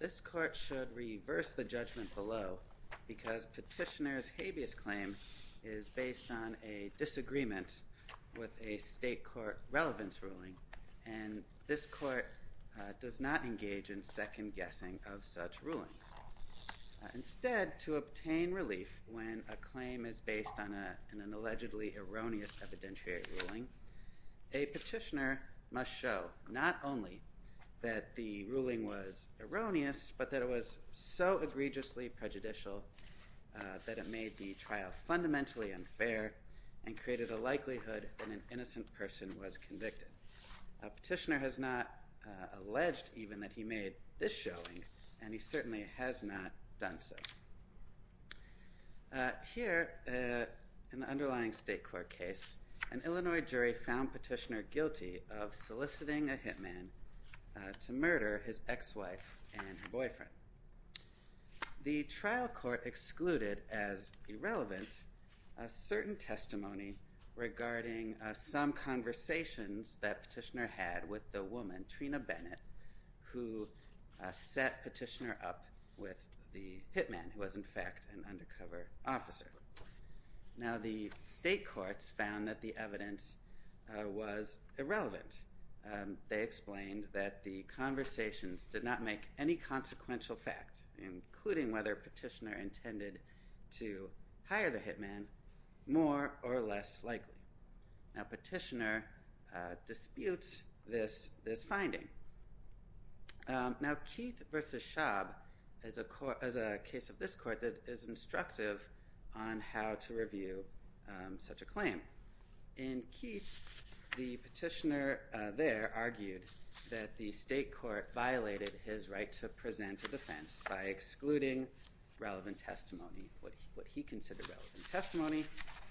The court should reverse the judgment below because Petitioner's habeas claim is based on a disagreement with a state court relevance ruling, and this court does not engage in second-guessing of such rulings. Instead, to obtain relief when a claim is based on an allegedly erroneous evidentiary ruling, a petitioner must show not only that the ruling was erroneous but that it was so egregiously prejudicial that it made the trial fundamentally unfair and created a likelihood that an innocent person was convicted. A petitioner has not alleged even that he made this showing and he certainly has not done so. Here, in the underlying state court case, an Illinois jury found Petitioner guilty of soliciting a hitman to murder his some conversations that Petitioner had with the woman, Trina Bennett, who set Petitioner up with the hitman, who was, in fact, an undercover officer. Now, the state courts found that the evidence was irrelevant. They explained that the conversations did not make any consequential fact, including whether Petitioner intended to hire the hitman, more or less likely. Now, Petitioner disputes this finding. Now, Keith v. Schaub is a case of this court that is instructive on how to review such a claim. In Keith, the petitioner there argued that the state court violated his right to present a defense by excluding relevant testimony, what he considered relevant testimony.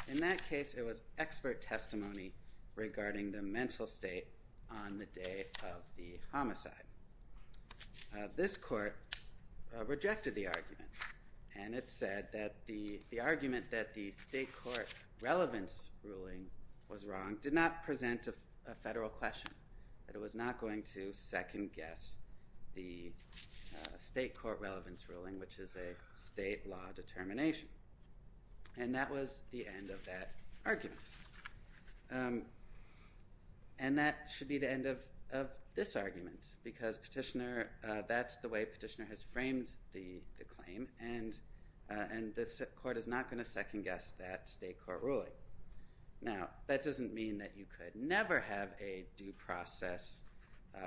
In that case, it was expert testimony regarding the mental state on the day of the homicide. This court rejected the argument and it said that the argument that the state court relevance ruling was wrong did not present a federal question, that it was not going to second guess the state court relevance ruling, which is a state law determination. And that was the end of that argument. And that should be the end of this argument because Petitioner, that's the way Petitioner has framed the claim and the court is not going to second guess that state court ruling. Now, that doesn't mean that you could never have a due process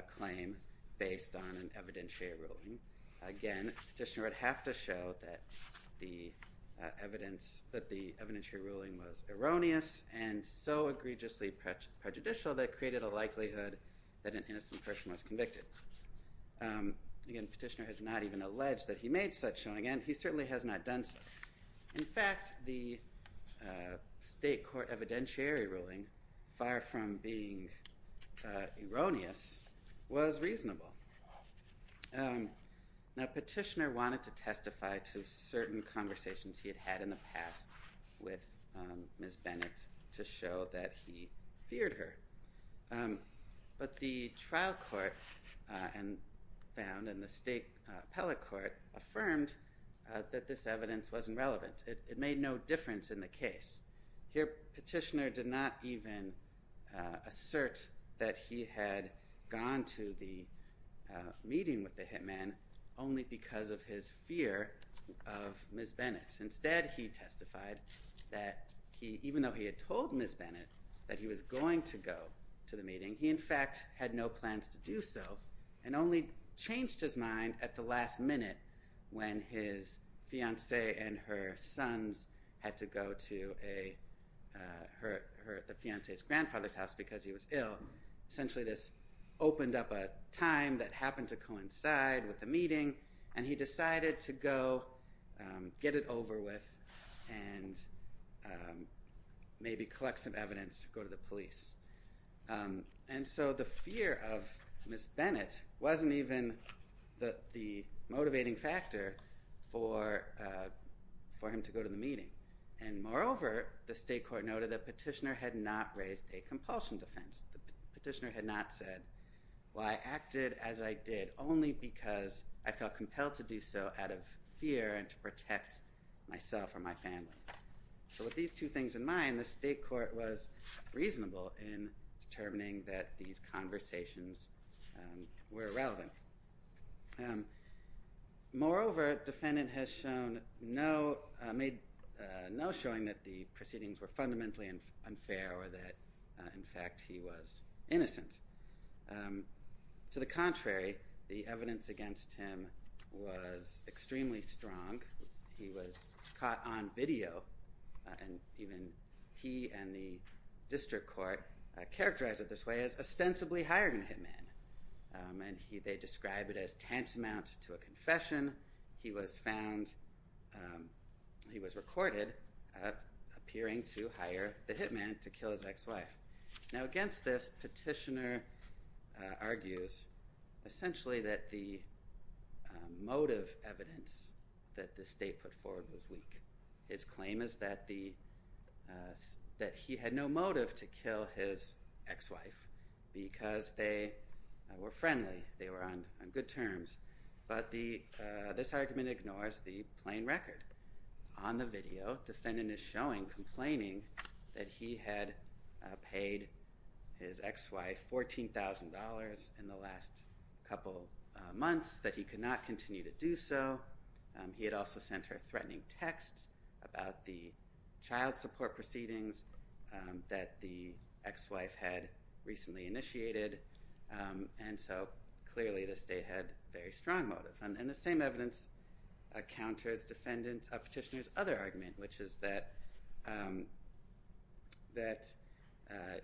claim based on an evidentiary ruling. Again, Petitioner would have to show that the evidence, that the evidentiary ruling was erroneous and so egregiously prejudicial that it created a likelihood that an innocent person was convicted. Again, Petitioner has not even alleged that he made such showing and he certainly has not done so. In fact, the state court evidentiary ruling, far from being erroneous, was reasonable. Now, Petitioner wanted to testify to certain conversations he had had in the past with Ms. Bennett to show that he feared her. But the trial court found and the state appellate court affirmed that this difference in the case. Here, Petitioner did not even assert that he had gone to the meeting with the hitman only because of his fear of Ms. Bennett. Instead, he testified that even though he had told Ms. Bennett that he was going to go to the meeting, he in fact had no plans to do so and only changed his mind at the last minute when his fiancé and her sons had to go to the fiancé's grandfather's house because he was ill. Essentially, this opened up a time that happened to coincide with the meeting and he decided to go get it over with and maybe collect some evidence to go to the police. And so the fear of Ms. Bennett wasn't even the motivating factor for him to go to the meeting. And moreover, the state court noted that Petitioner had not raised a compulsion defense. Petitioner had not said, well, I acted as I did only because I felt compelled to do so out of fear and to protect myself or my family. So with these two things in mind, the state court was reasonable in determining that these conversations were relevant. Moreover, the defendant has shown no showing that the proceedings were fundamentally unfair or that in fact he was innocent. To the contrary, the evidence against him was extremely strong. He was caught on video and even he and the district court characterized it this way as ostensibly hiring a hitman. And they described it as tantamount to a confession. He was found, he was recorded appearing to hire the hitman to kill his ex-wife. Now, against this, Petitioner argues essentially that the motive evidence that the state put forward was weak. His claim is that he had no motive to kill his ex-wife because they were friendly, they were on good terms. But this argument ignores the plain record. On the video, the defendant is showing, complaining that he had paid his ex-wife $14,000 in the last couple of months, that he could not continue to do so. He had also sent her threatening texts about the child support proceedings that the ex-wife had recently initiated. And so clearly the state had very strong motive. And the same evidence counters Petitioner's other argument, which is that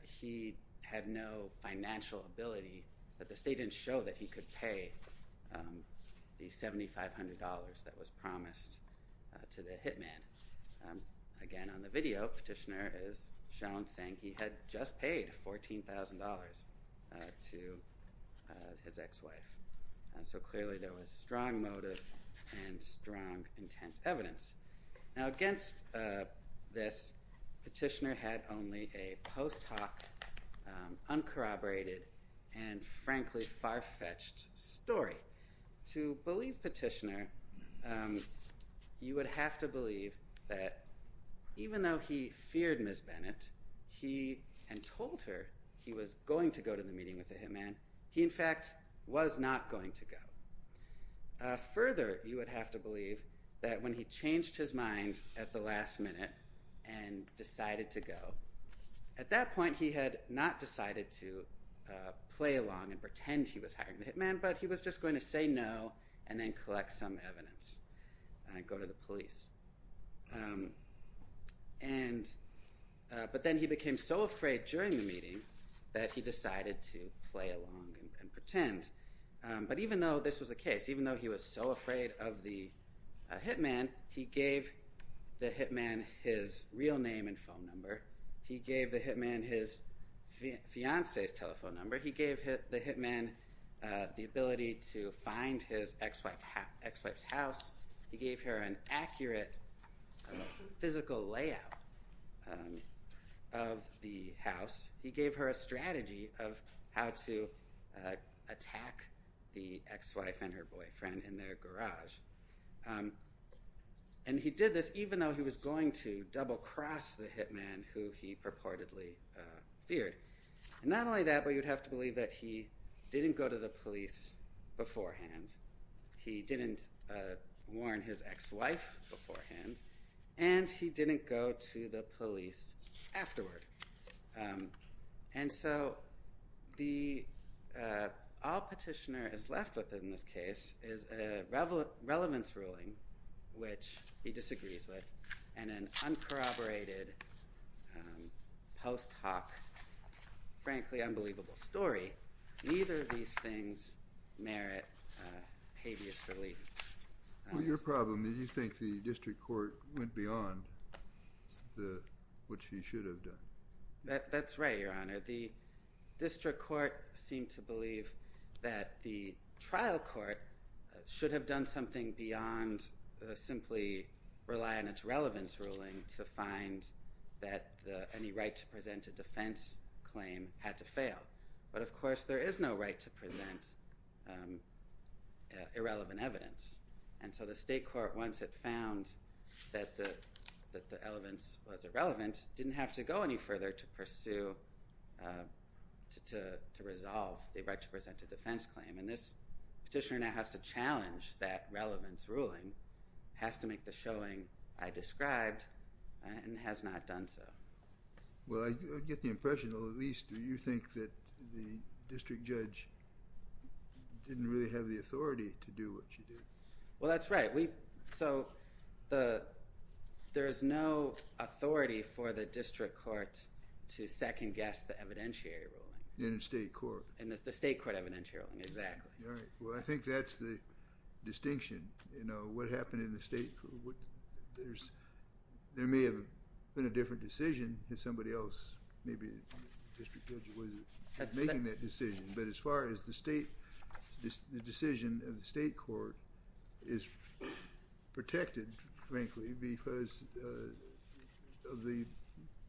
he had no financial ability, that the state didn't show that he could pay the $7,500 that was promised to the hitman. Again, on the video, Petitioner is shown saying he had just paid $14,000 to his ex-wife. And so clearly there was strong motive and strong intent evidence. Now against this, Petitioner had only a post hoc, uncorroborated, and frankly far-fetched story. To believe Petitioner, you would have to believe that even though he feared Ms. Bennett, he had told her he was going to go to the meeting with the hitman, he in fact was not going to go. Further, you would have to believe that when he changed his mind at the last minute and decided to go, at that point he had not decided to play along and pretend he was hiring the hitman, but he was just going to say no and then collect some evidence and go to the police. But then he became so afraid during the meeting that he decided to play along and pretend. But even though this was the case, even though he was so afraid of the hitman, he gave the hitman his real name and phone number. He gave the hitman his fiance's telephone number. He gave the hitman the ability to find his ex-wife's house. He gave her an accurate physical layout of the house. He gave her a strategy of how to attack the ex-wife and her boyfriend in their garage. And he did this even though he was going to double-cross the hitman who he purportedly feared. Not only that, but you'd have to believe that he didn't go to the police beforehand. He didn't warn his ex-wife beforehand, and he didn't go to the police afterward. And so all Petitioner is left with in this case is a relevance ruling which he disagrees with and an uncorroborated post hoc frankly unbelievable story. Neither of these things merit habeas relief. Well, your problem is you think the district court went beyond what she should have done. That's right, Your Honor. The district court seemed to believe that the trial court should have done something beyond simply rely on its relevance ruling to find that any right to present a defense claim had to fail. But of course there is no right to present irrelevant evidence. And so the state court once it found that the pursue to resolve the right to present a defense claim. And this Petitioner now has to challenge that relevance ruling, has to make the showing I described, and has not done so. Well, I get the impression, or at least you think, that the district judge didn't really have the authority to do what she did. Well, that's right. So there is no authority for the district court to second-guess the evidentiary ruling. In the state court? In the state court evidentiary ruling, exactly. All right. Well, I think that's the distinction. You know, what happened in the state? There may have been a different decision if somebody else, maybe the district judge, wasn't making that decision. But as far as the state, the decision of the state court is protected, frankly, because of the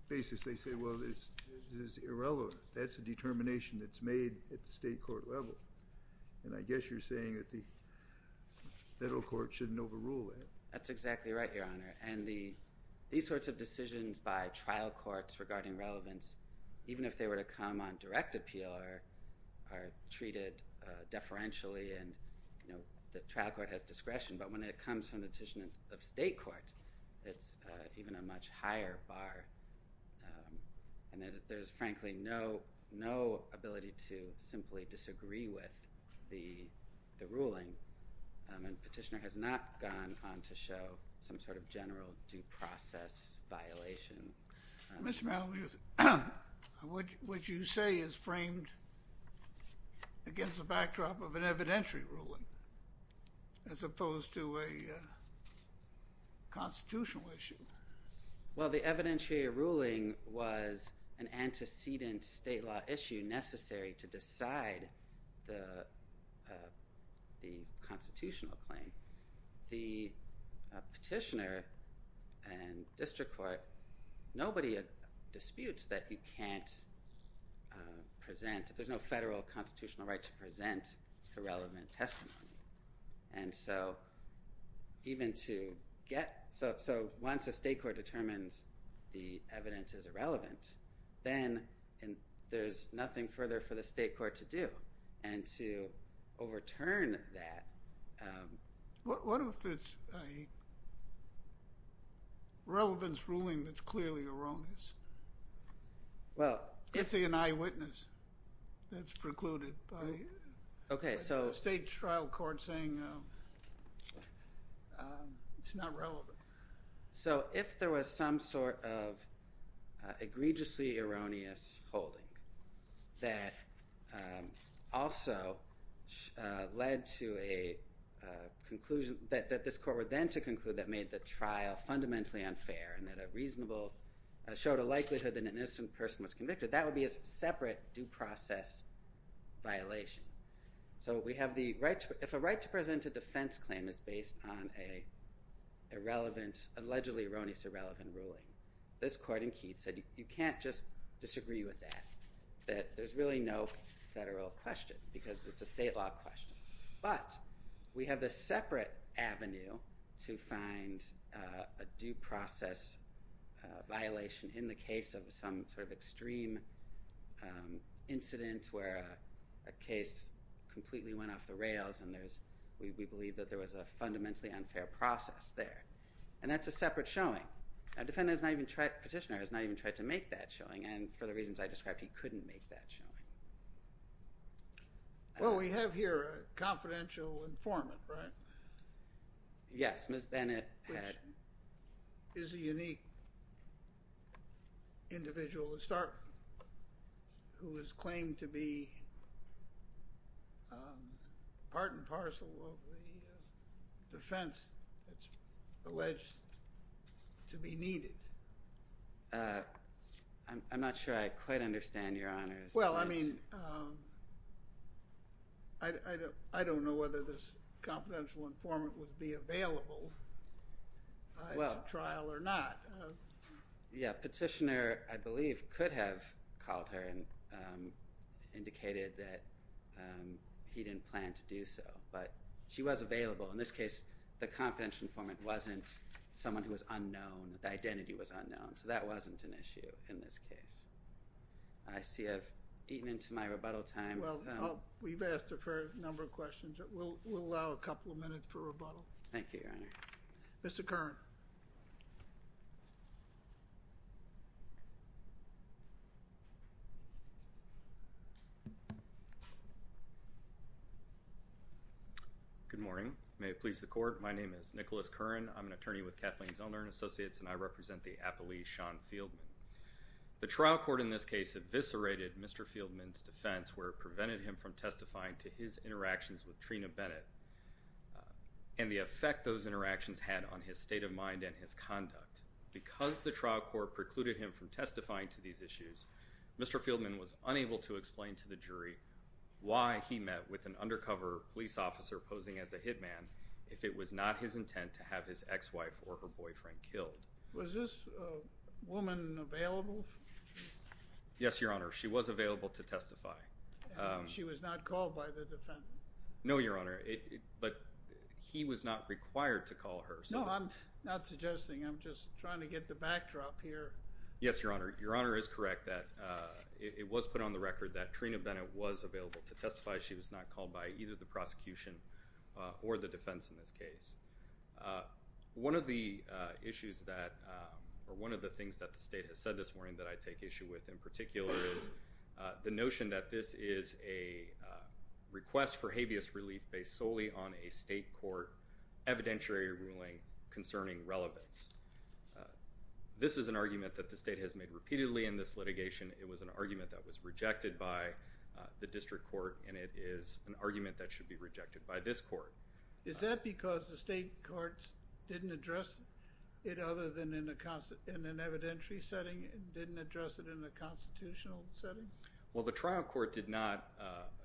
basis they say, well, this is irrelevant. That's a determination that's made at the state court level. And I guess you're saying that the federal court shouldn't overrule that. That's exactly right, Your Honor. And these sorts of decisions by trial courts regarding relevance, even if they were to come on direct appeal, are from the decision of state court. It's even a much higher bar. And there's frankly no ability to simply disagree with the ruling. And Petitioner has not gone on to show some sort of general due process violation. Mr. Maloney, what you say is framed against the backdrop of an evidentiary ruling as opposed to a constitutional issue. Well, the evidentiary ruling was an antecedent state law issue necessary to decide the constitutional claim. The Petitioner and district court, nobody disputes that you can't present. There's no federal constitutional right to present irrelevant testimony. And so even to get, so once a state court determines the evidence is irrelevant, then there's nothing further for the state court to do. And to overturn that. What if it's a relevance ruling that's clearly erroneous? I'd say an eyewitness that's precluded by a state trial court saying it's not relevant. So if there was some sort of egregiously erroneous holding that also led to a conclusion that this court were then to conclude that made the trial fundamentally unfair and that a reasonable, showed a likelihood that an innocent person was convicted, that would be a separate due process violation. So we have the right, if a right to present a defense claim is based on a irrelevant, allegedly erroneous, irrelevant ruling, this court in Keith said you can't just disagree with that. That there's really no federal question because it's a state law question. But we have the separate avenue to find a due process violation in the case of some sort of extreme incident where a case completely went off the rails and we believe that there was a fundamentally unfair process there. And that's a separate showing. A petitioner has not even tried to make that showing and for the reasons I described he couldn't make that showing. Well, we have here a confidential informant, right? Yes, Ms. Bennett. Which is a unique individual who is claimed to be part and parcel of the defense that's alleged to be needed. Uh, I'm not sure I quite understand your honors. Well, I mean, I don't know whether this confidential informant would be available to trial or not. Yeah, petitioner, I believe, could have called her and indicated that he didn't plan to do so. But she was available. In this case, the confidential informant wasn't someone who was unknown. The identity was unknown. So that wasn't an issue in this case. I see I've eaten into my rebuttal time. Well, we've asked her for a number of questions. We'll allow a couple of minutes for rebuttal. Thank you, Your Honor. Mr. Curran. Good morning. May it please the court. My name is Nicholas Curran. I'm an attorney with Kathleen Zellner and Associates and I represent the appellee, Sean Fieldman. The trial court in this case eviscerated Mr. Fieldman's defense where it prevented him from testifying to his interactions had on his state of mind and his conduct. Because the trial court precluded him from testifying to these issues, Mr. Fieldman was unable to explain to the jury why he met with an undercover police officer posing as a hitman if it was not his intent to have his ex-wife or her boyfriend killed. Was this woman available? Yes, Your Honor. She was available to testify. She was not called by the defendant? No, Your Honor. But he was not required to call her. No, I'm not suggesting. I'm just trying to get the backdrop here. Yes, Your Honor. Your Honor is correct that it was put on the record that Trina Bennett was available to testify. She was not called by either the prosecution or the defense in this case. One of the issues that, or one of the things that the state has said this morning that I take issue with in particular is the notion that this is a request for habeas relief based solely on a state court evidentiary ruling concerning relevance. This is an argument that the state has made repeatedly in this litigation. It was an argument that was rejected by the district court and it is an argument that should be rejected by this court. Is that because the state courts didn't address it other than in an evidentiary setting and didn't address it in a constitutional setting? Well, the trial court did not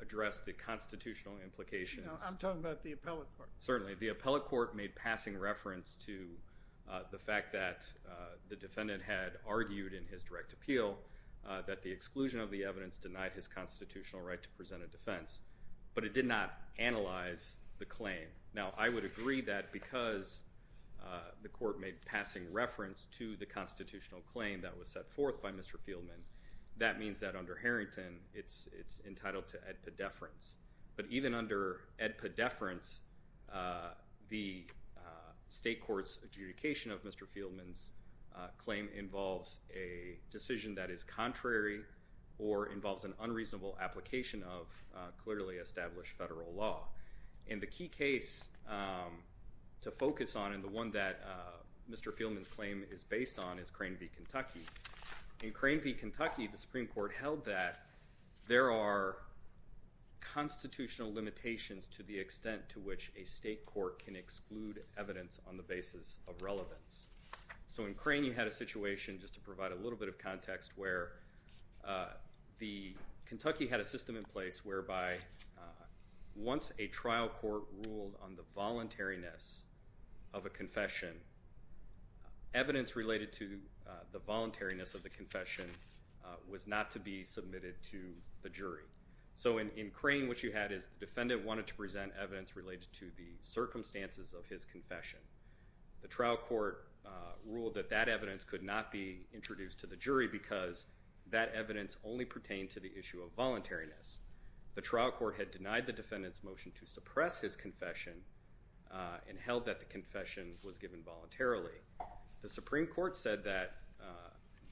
address the constitutional implications. No, I'm talking about the appellate court. Certainly, the appellate court made passing reference to the fact that the defendant had argued in his direct appeal that the exclusion of the evidence denied his constitutional right to present a defense, but it did not analyze the claim. Now, I would agree that because the court made passing reference to the constitutional claim that was set forth by Mr. Fieldman, that means that under Harrington, it's entitled to ad pedeference, but even under ad pedeference, the state court's adjudication of Mr. Fieldman's claim involves a decision that is contrary or involves an unreasonable application of clearly established federal law. In the key case to focus on and the one that Mr. Fieldman's claim is based on is Crane v. Kentucky. In Crane v. Kentucky, the Supreme Court held that there are constitutional limitations to the extent to which a state court can exclude evidence on the basis of relevance. So in Crane, you had a situation, just to provide a little bit of context, where the Kentucky had a system in the voluntariness of a confession. Evidence related to the voluntariness of the confession was not to be submitted to the jury. So in Crane, what you had is the defendant wanted to present evidence related to the circumstances of his confession. The trial court ruled that that evidence could not be introduced to the jury because that evidence only pertained to the and held that the confession was given voluntarily. The Supreme Court said that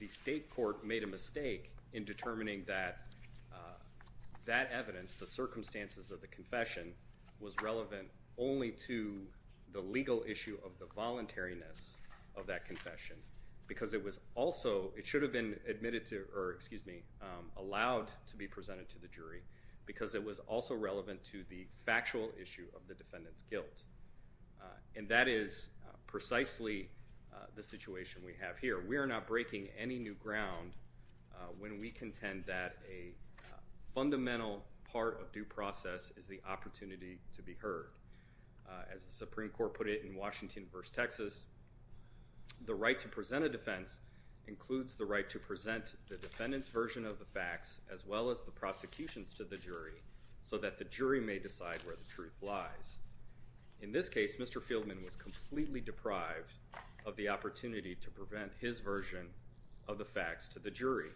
the state court made a mistake in determining that that evidence, the circumstances of the confession, was relevant only to the legal issue of the voluntariness of that confession, because it was also, it should have been admitted to, or excuse me, allowed to be presented to the And that is precisely the situation we have here. We are not breaking any new ground when we contend that a fundamental part of due process is the opportunity to be heard. As the Supreme Court put it in Washington v. Texas, the right to present a defense includes the right to present the defendant's version of the facts as well as the prosecution's to the jury so that the jury may decide where the truth lies. In this case, Mr. Fieldman was completely deprived of the opportunity to present his version of the facts to the jury.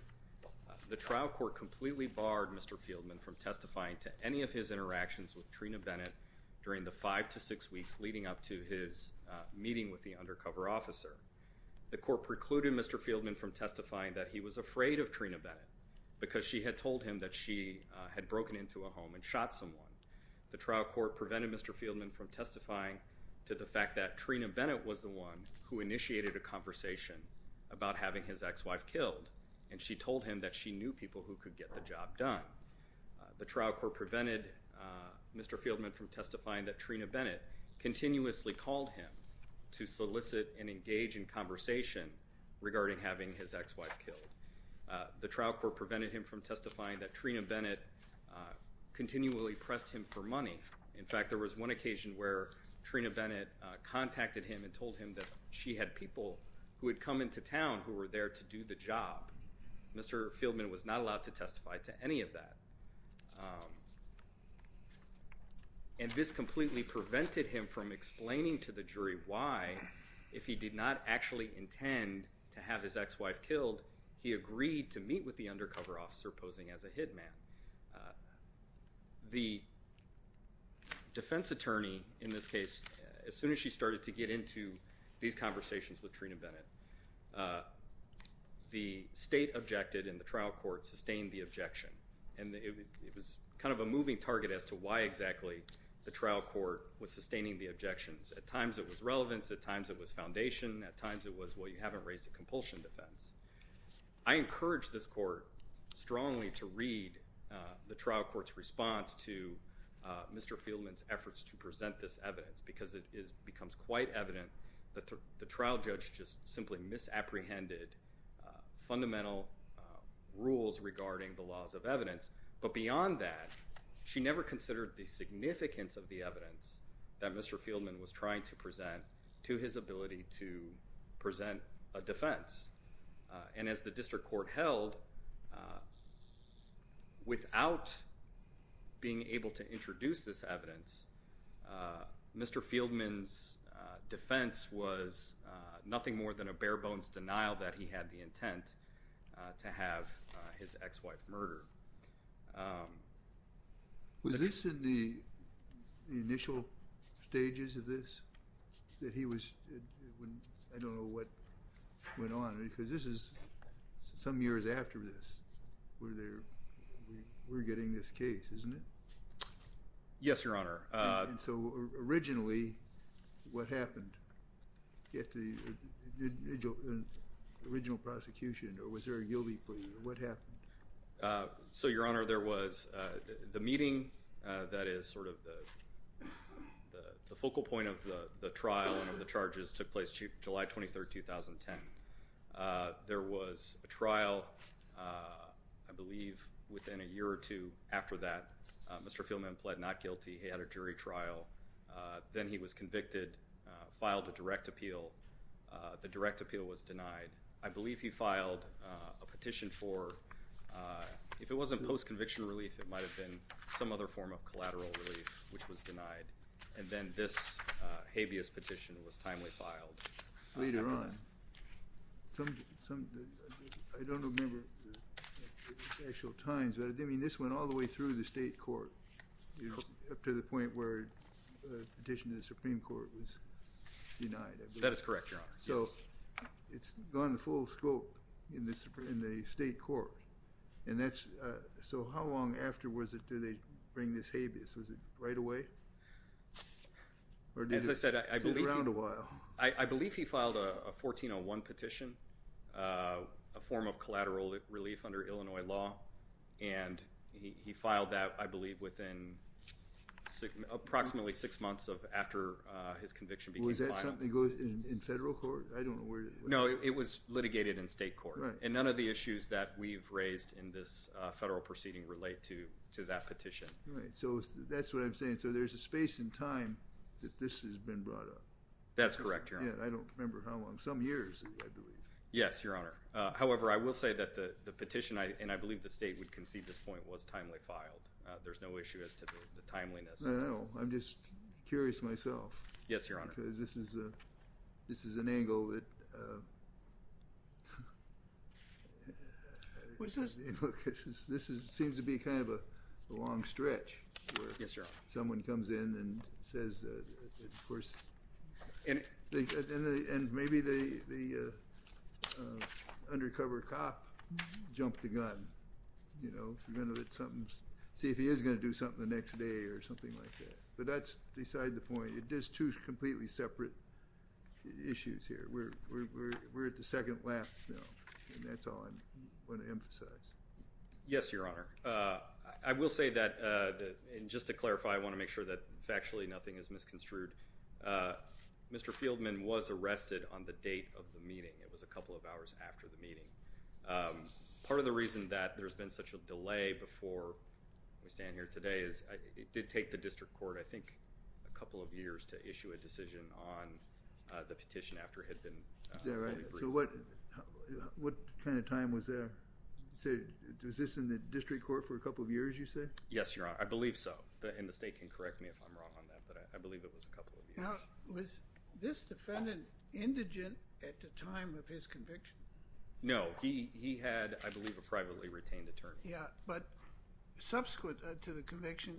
The trial court completely barred Mr. Fieldman from testifying to any of his interactions with Trina Bennett during the five to six weeks leading up to his meeting with the undercover officer. The court precluded Mr. Fieldman from testifying that he was afraid of Trina Bennett because she had told him that she had broken into a home and shot someone. The trial court prevented Mr. Fieldman from testifying to the fact that Trina Bennett was the one who initiated a conversation about having his ex-wife killed and she told him that she knew people who could get the job done. The trial court prevented Mr. Fieldman from testifying that Trina Bennett continuously called him to solicit and engage in conversation regarding having his ex-wife killed. The trial court prevented him from continually press him for money. In fact, there was one occasion where Trina Bennett contacted him and told him that she had people who had come into town who were there to do the job. Mr. Fieldman was not allowed to testify to any of that. And this completely prevented him from explaining to the jury why, if he did not actually intend to have his ex-wife killed, he agreed to meet with the undercover officer posing as a hitman. The defense attorney, in this case, as soon as she started to get into these conversations with Trina Bennett, the state objected and the trial court sustained the objection. And it was kind of a moving target as to why exactly the trial court was sustaining the objections. At times it was relevance, at times it was foundation, at times it was, well, you haven't raised a compulsion defense. I encourage this court strongly to read the trial court's response to Mr. Fieldman's efforts to present this evidence because it becomes quite evident that the trial judge just simply misapprehended fundamental rules regarding the laws of evidence. But beyond that, she never considered the significance of the evidence that Mr. Fieldman was trying to present to his ability to present a defense. And as the district court held, without being able to introduce this evidence, Mr. Fieldman's defense was nothing more than a bare-bones denial that he had the intent to have his ex-wife murdered. Was this in the initial stages of this, that he was, I don't know what went on, because this is some years after this, where we're getting this case, isn't it? Yes, Your Honor. And so, originally, what happened? Get the original prosecution, or was there a guilty plea, or what happened? So, Your Honor, there was the meeting that is sort of the focal point of the trial and the charges took place July 23, 2010. There was a trial, I believe, within a year or two after that. Mr. Fieldman pled not guilty. He had a jury trial. Then he was convicted, filed a direct appeal. The direct appeal was denied. I believe he filed a petition for, if it wasn't post-conviction relief, it might have been some other form of collateral relief, which was denied. And then this habeas petition was timely filed. Later on. I don't remember the actual times, but I mean, this went all the way through the state court, up to the point where the petition to the Supreme Court was denied. That is correct, Your Honor. So, it's gone full scope in the state court, and that's, so how long after was it do they bring this habeas? Was it right away? Or did it sit around a while? I believe he filed a 1401 petition, a form of collateral relief under Illinois law, and he filed that, I believe, within approximately six months of after his conviction. Well, is that something that goes in federal court? I don't know where... No, it was litigated in state court, and none of the issues that we've raised in this federal proceeding relate to that petition. Right. So, that's what I'm saying. So, there's a space in time that this has been brought up. That's correct, Your Honor. I don't remember how long. Some years, I believe. Yes, Your Honor. However, I will say that the petition, and I believe the state would concede this point, was timely filed. There's no issue as to the timeliness. I don't know. I'm just curious myself. Yes, Your Honor. Because this is an angle that... This seems to be kind of a long stretch. Yes, Your Honor. Someone comes in and says that, of course... And maybe the undercover cop jumped the gun, you know, see if he is going to do something the next day or something like that. But that's beside the point. There's two completely separate issues here. We're at the second lap now, and that's all I want to emphasize. Yes, Your Honor. I will say that, and just to clarify, I want to make sure that factually nothing is misconstrued. Mr. Fieldman was arrested on the date of the meeting. It was a couple of hours after the meeting. Part of the reason that there's been such a delay before we stand here today is it did take the district court, I think, a couple of years to issue a decision on the petition after it had been... So what kind of time was there? Was this in the district court for a couple of years, you say? Yes, Your Honor. I believe so. And the state can correct me if I'm wrong on that, but I believe it was a couple of years. Now, was this defendant indigent at the time of his conviction? No. He had, I believe, a privately retained attorney. Yeah. But subsequent to the conviction,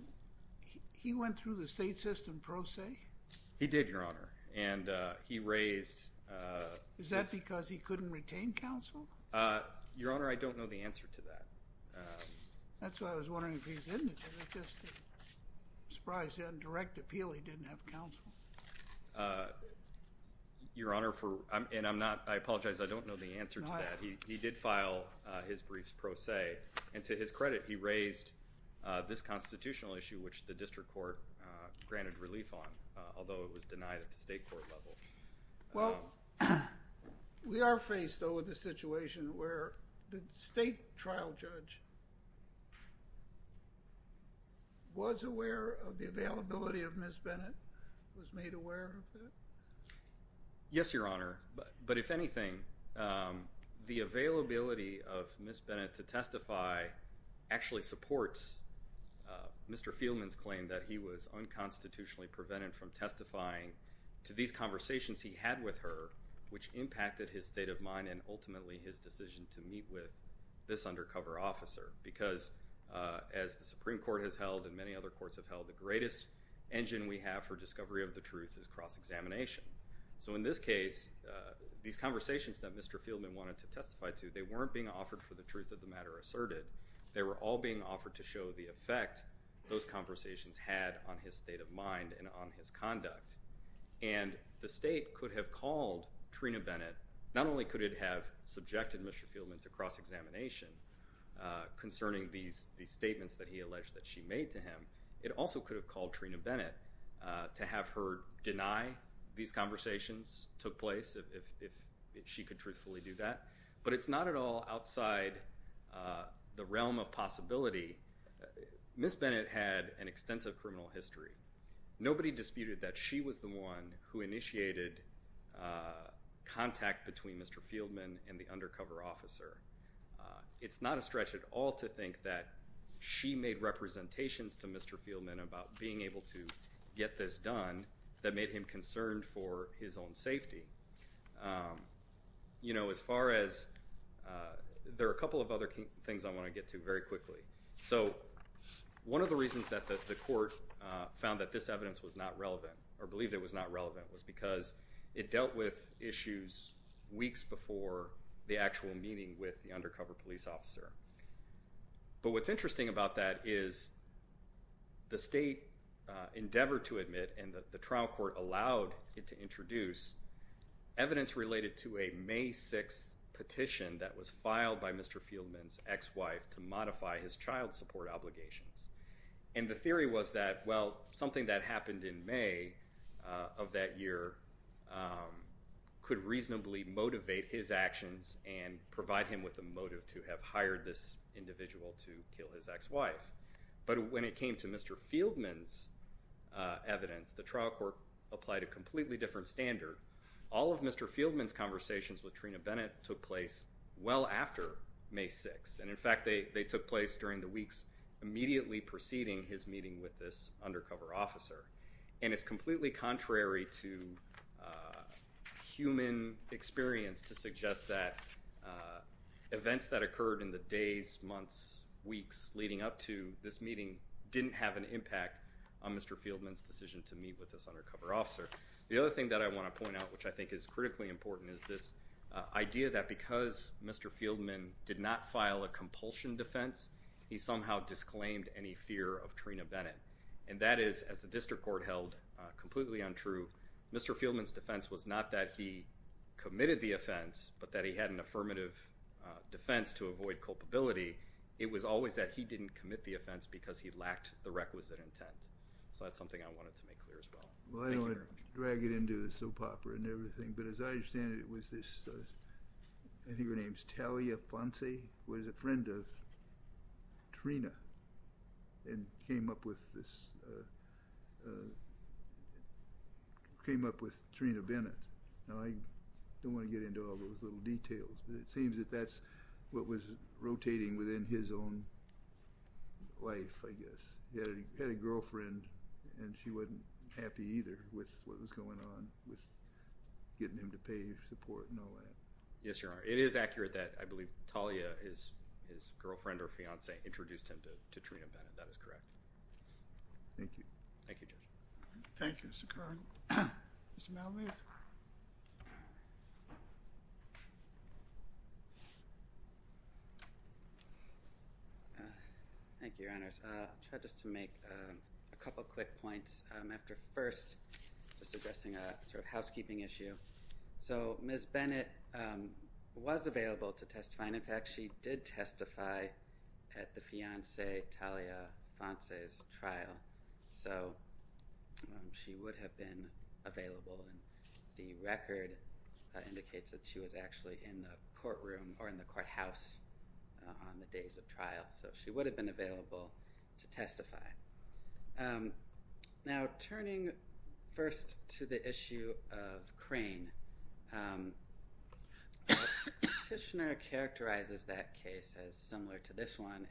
he went through the state system pro se? He did, Your Honor. And he raised... Is that because he couldn't retain counsel? Your Honor, I don't know the answer to that. That's why I was wondering if he was indigent. I'm just surprised that on direct appeal he didn't have counsel. Your Honor, and I apologize, I don't know the answer to that. He did file his briefs pro se, and to his credit, he raised this constitutional issue, which the district court granted relief on, although it was denied at the state court level. Well, we are faced, though, with a situation where the state trial judge was aware of the availability of Ms. Bennett, was made aware of it? Yes, Your Honor. But if anything, the availability of Ms. Bennett to testify actually supports Mr. Fieldman's claim that he was unconstitutionally prevented from testifying to these conversations he had with her, which impacted his state of mind and ultimately his decision to meet with this undercover officer. Because as the Supreme Court has held and many other courts have held, the greatest engine we have for discovery of the truth is cross-examination. So in this case, these conversations that Mr. Fieldman wanted to testify to, they weren't being offered for the truth of the matter asserted. They were all being offered to show the effect those conversations had on his state of mind and on his conduct. And the state could have called Trina Bennett, not only could it have subjected Mr. Fieldman to cross-examination concerning these statements that he alleged that she made to him, it also could have called Trina Bennett to have her deny these conversations took place if she could truthfully do that. But it's not at all outside the realm of possibility. Ms. Bennett had an extensive criminal history. Nobody disputed that she was the one who initiated contact between Mr. Fieldman and the undercover officer. It's not a stretch at all to think that she made representations to Mr. Fieldman about being able to get this done that made him concerned for his own safety. You know, as far as, there are a couple of other things I want to get to very quickly. So one of the reasons that the court found that this evidence was not relevant, or believed it was not relevant, was because it dealt with issues weeks before the actual meeting with the undercover police officer. But what's interesting about that is the state endeavored to admit, and the trial allowed it to introduce, evidence related to a May 6th petition that was filed by Mr. Fieldman's ex-wife to modify his child support obligations. And the theory was that, well, something that happened in May of that year could reasonably motivate his actions and provide him with the motive to have hired this individual to kill his ex-wife. But when it came to Mr. Fieldman's evidence, the trial court applied a completely different standard. All of Mr. Fieldman's conversations with Trina Bennett took place well after May 6th. And in fact, they took place during the weeks immediately preceding his meeting with this undercover officer. And it's completely contrary to human experience to suggest that events that occurred in the days, months, weeks leading up to this meeting didn't have an impact on Mr. Fieldman's decision to meet with this undercover officer. The other thing that I want to point out, which I think is critically important, is this idea that because Mr. Fieldman did not file a compulsion defense, he somehow disclaimed any fear of Trina Bennett. And that is, as the district court held, completely untrue. Mr. Fieldman's defense was not that he committed the offense, but that he had an affirmative defense to avoid culpability. It was always that he didn't commit the offense because he lacked the requisite intent. So that's something I wanted to make clear as well. Well, I don't want to drag it into the soap opera and everything, but as I understand it, it was this, I think her name's Talia Fonse, who was a friend of Trina and came up with this, came up with Trina Bennett. Now, I don't want to get into all those little details, but it seems that that's what was rotating within his own life, I guess. He had a girlfriend and she wasn't happy either with what was going on with getting him to pay for support and all that. Yes, Your Honor. It is accurate that I believe Talia, his girlfriend or fiance, introduced him to Trina Bennett. That is correct. Thank you. Thank you, Judge. Thank you, Mr. Kern. Mr. Malamud. Thank you, Your Honors. I'll try just to make a couple quick points after first just addressing a sort of housekeeping issue. So Ms. Bennett was available to testify, and in fact, she did testify at the fiance Talia Fonse's trial. So she would have been available, and the record indicates that she was actually in the courtroom or in the courthouse on the days of trial. So she would have been available to testify. Now, turning first to the issue of Crane, the petitioner characterizes that case as similar to this one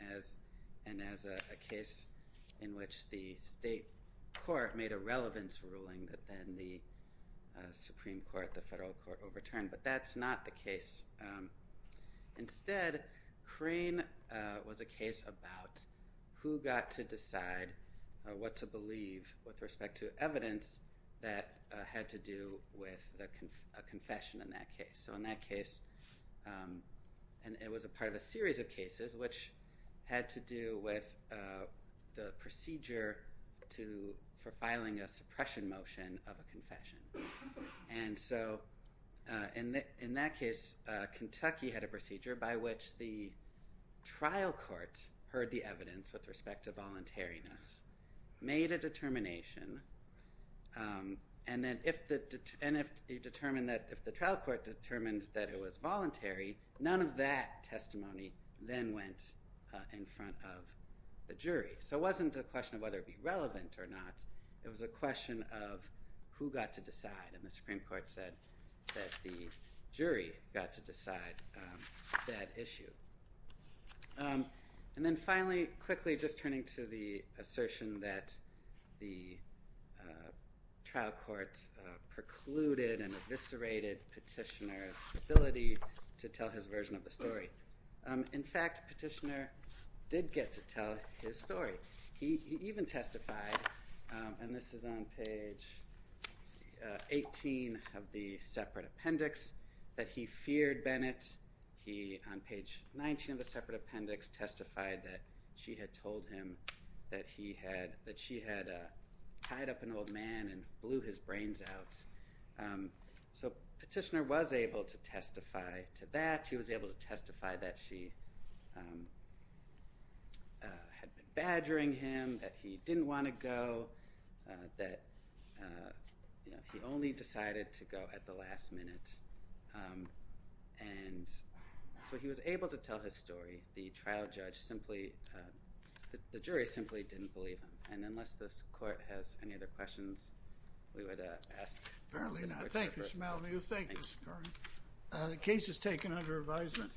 and as a case in which the state court made a relevance ruling that then the Supreme Court, the federal court overturned, but that's not the case. Instead, Crane was a case about who got to decide what to believe with respect to evidence that had to do with a confession in that case. So in that case, and it was a part of a series of cases which had to do with the procedure for filing a suppression motion of a confession. And so in that case, Kentucky had a procedure by which the trial court heard the evidence with respect to voluntariness, made a determination, and then if the trial court determined that it was voluntary, none of that testimony then went in front of the jury. So it wasn't a question of whether it'd be relevant or not. It was a question of who got to decide, and the Supreme Court said that the jury got to decide that issue. And then finally, quickly, just turning to the assertion that the trial courts precluded and eviscerated petitioner's ability to tell his version of the story. In fact, petitioner did get to tell his story. He even testified, and this is on page 18 of the separate appendix, that he feared Bennett. He, on page 19 of the separate appendix, testified that she had told him that she had tied up an old man and blew his brains out. So petitioner was able to testify to that. He was able to testify that she had been badgering him, that he didn't want to go, that you know, he only decided to go at the last minute. And so he was able to tell his story. The trial judge simply, the jury simply didn't believe him. And unless this court has any other questions, we would ask. Apparently not. Thank you, Mr. Malview. Thank you, Mr. Corwin. The case is taken under advisement.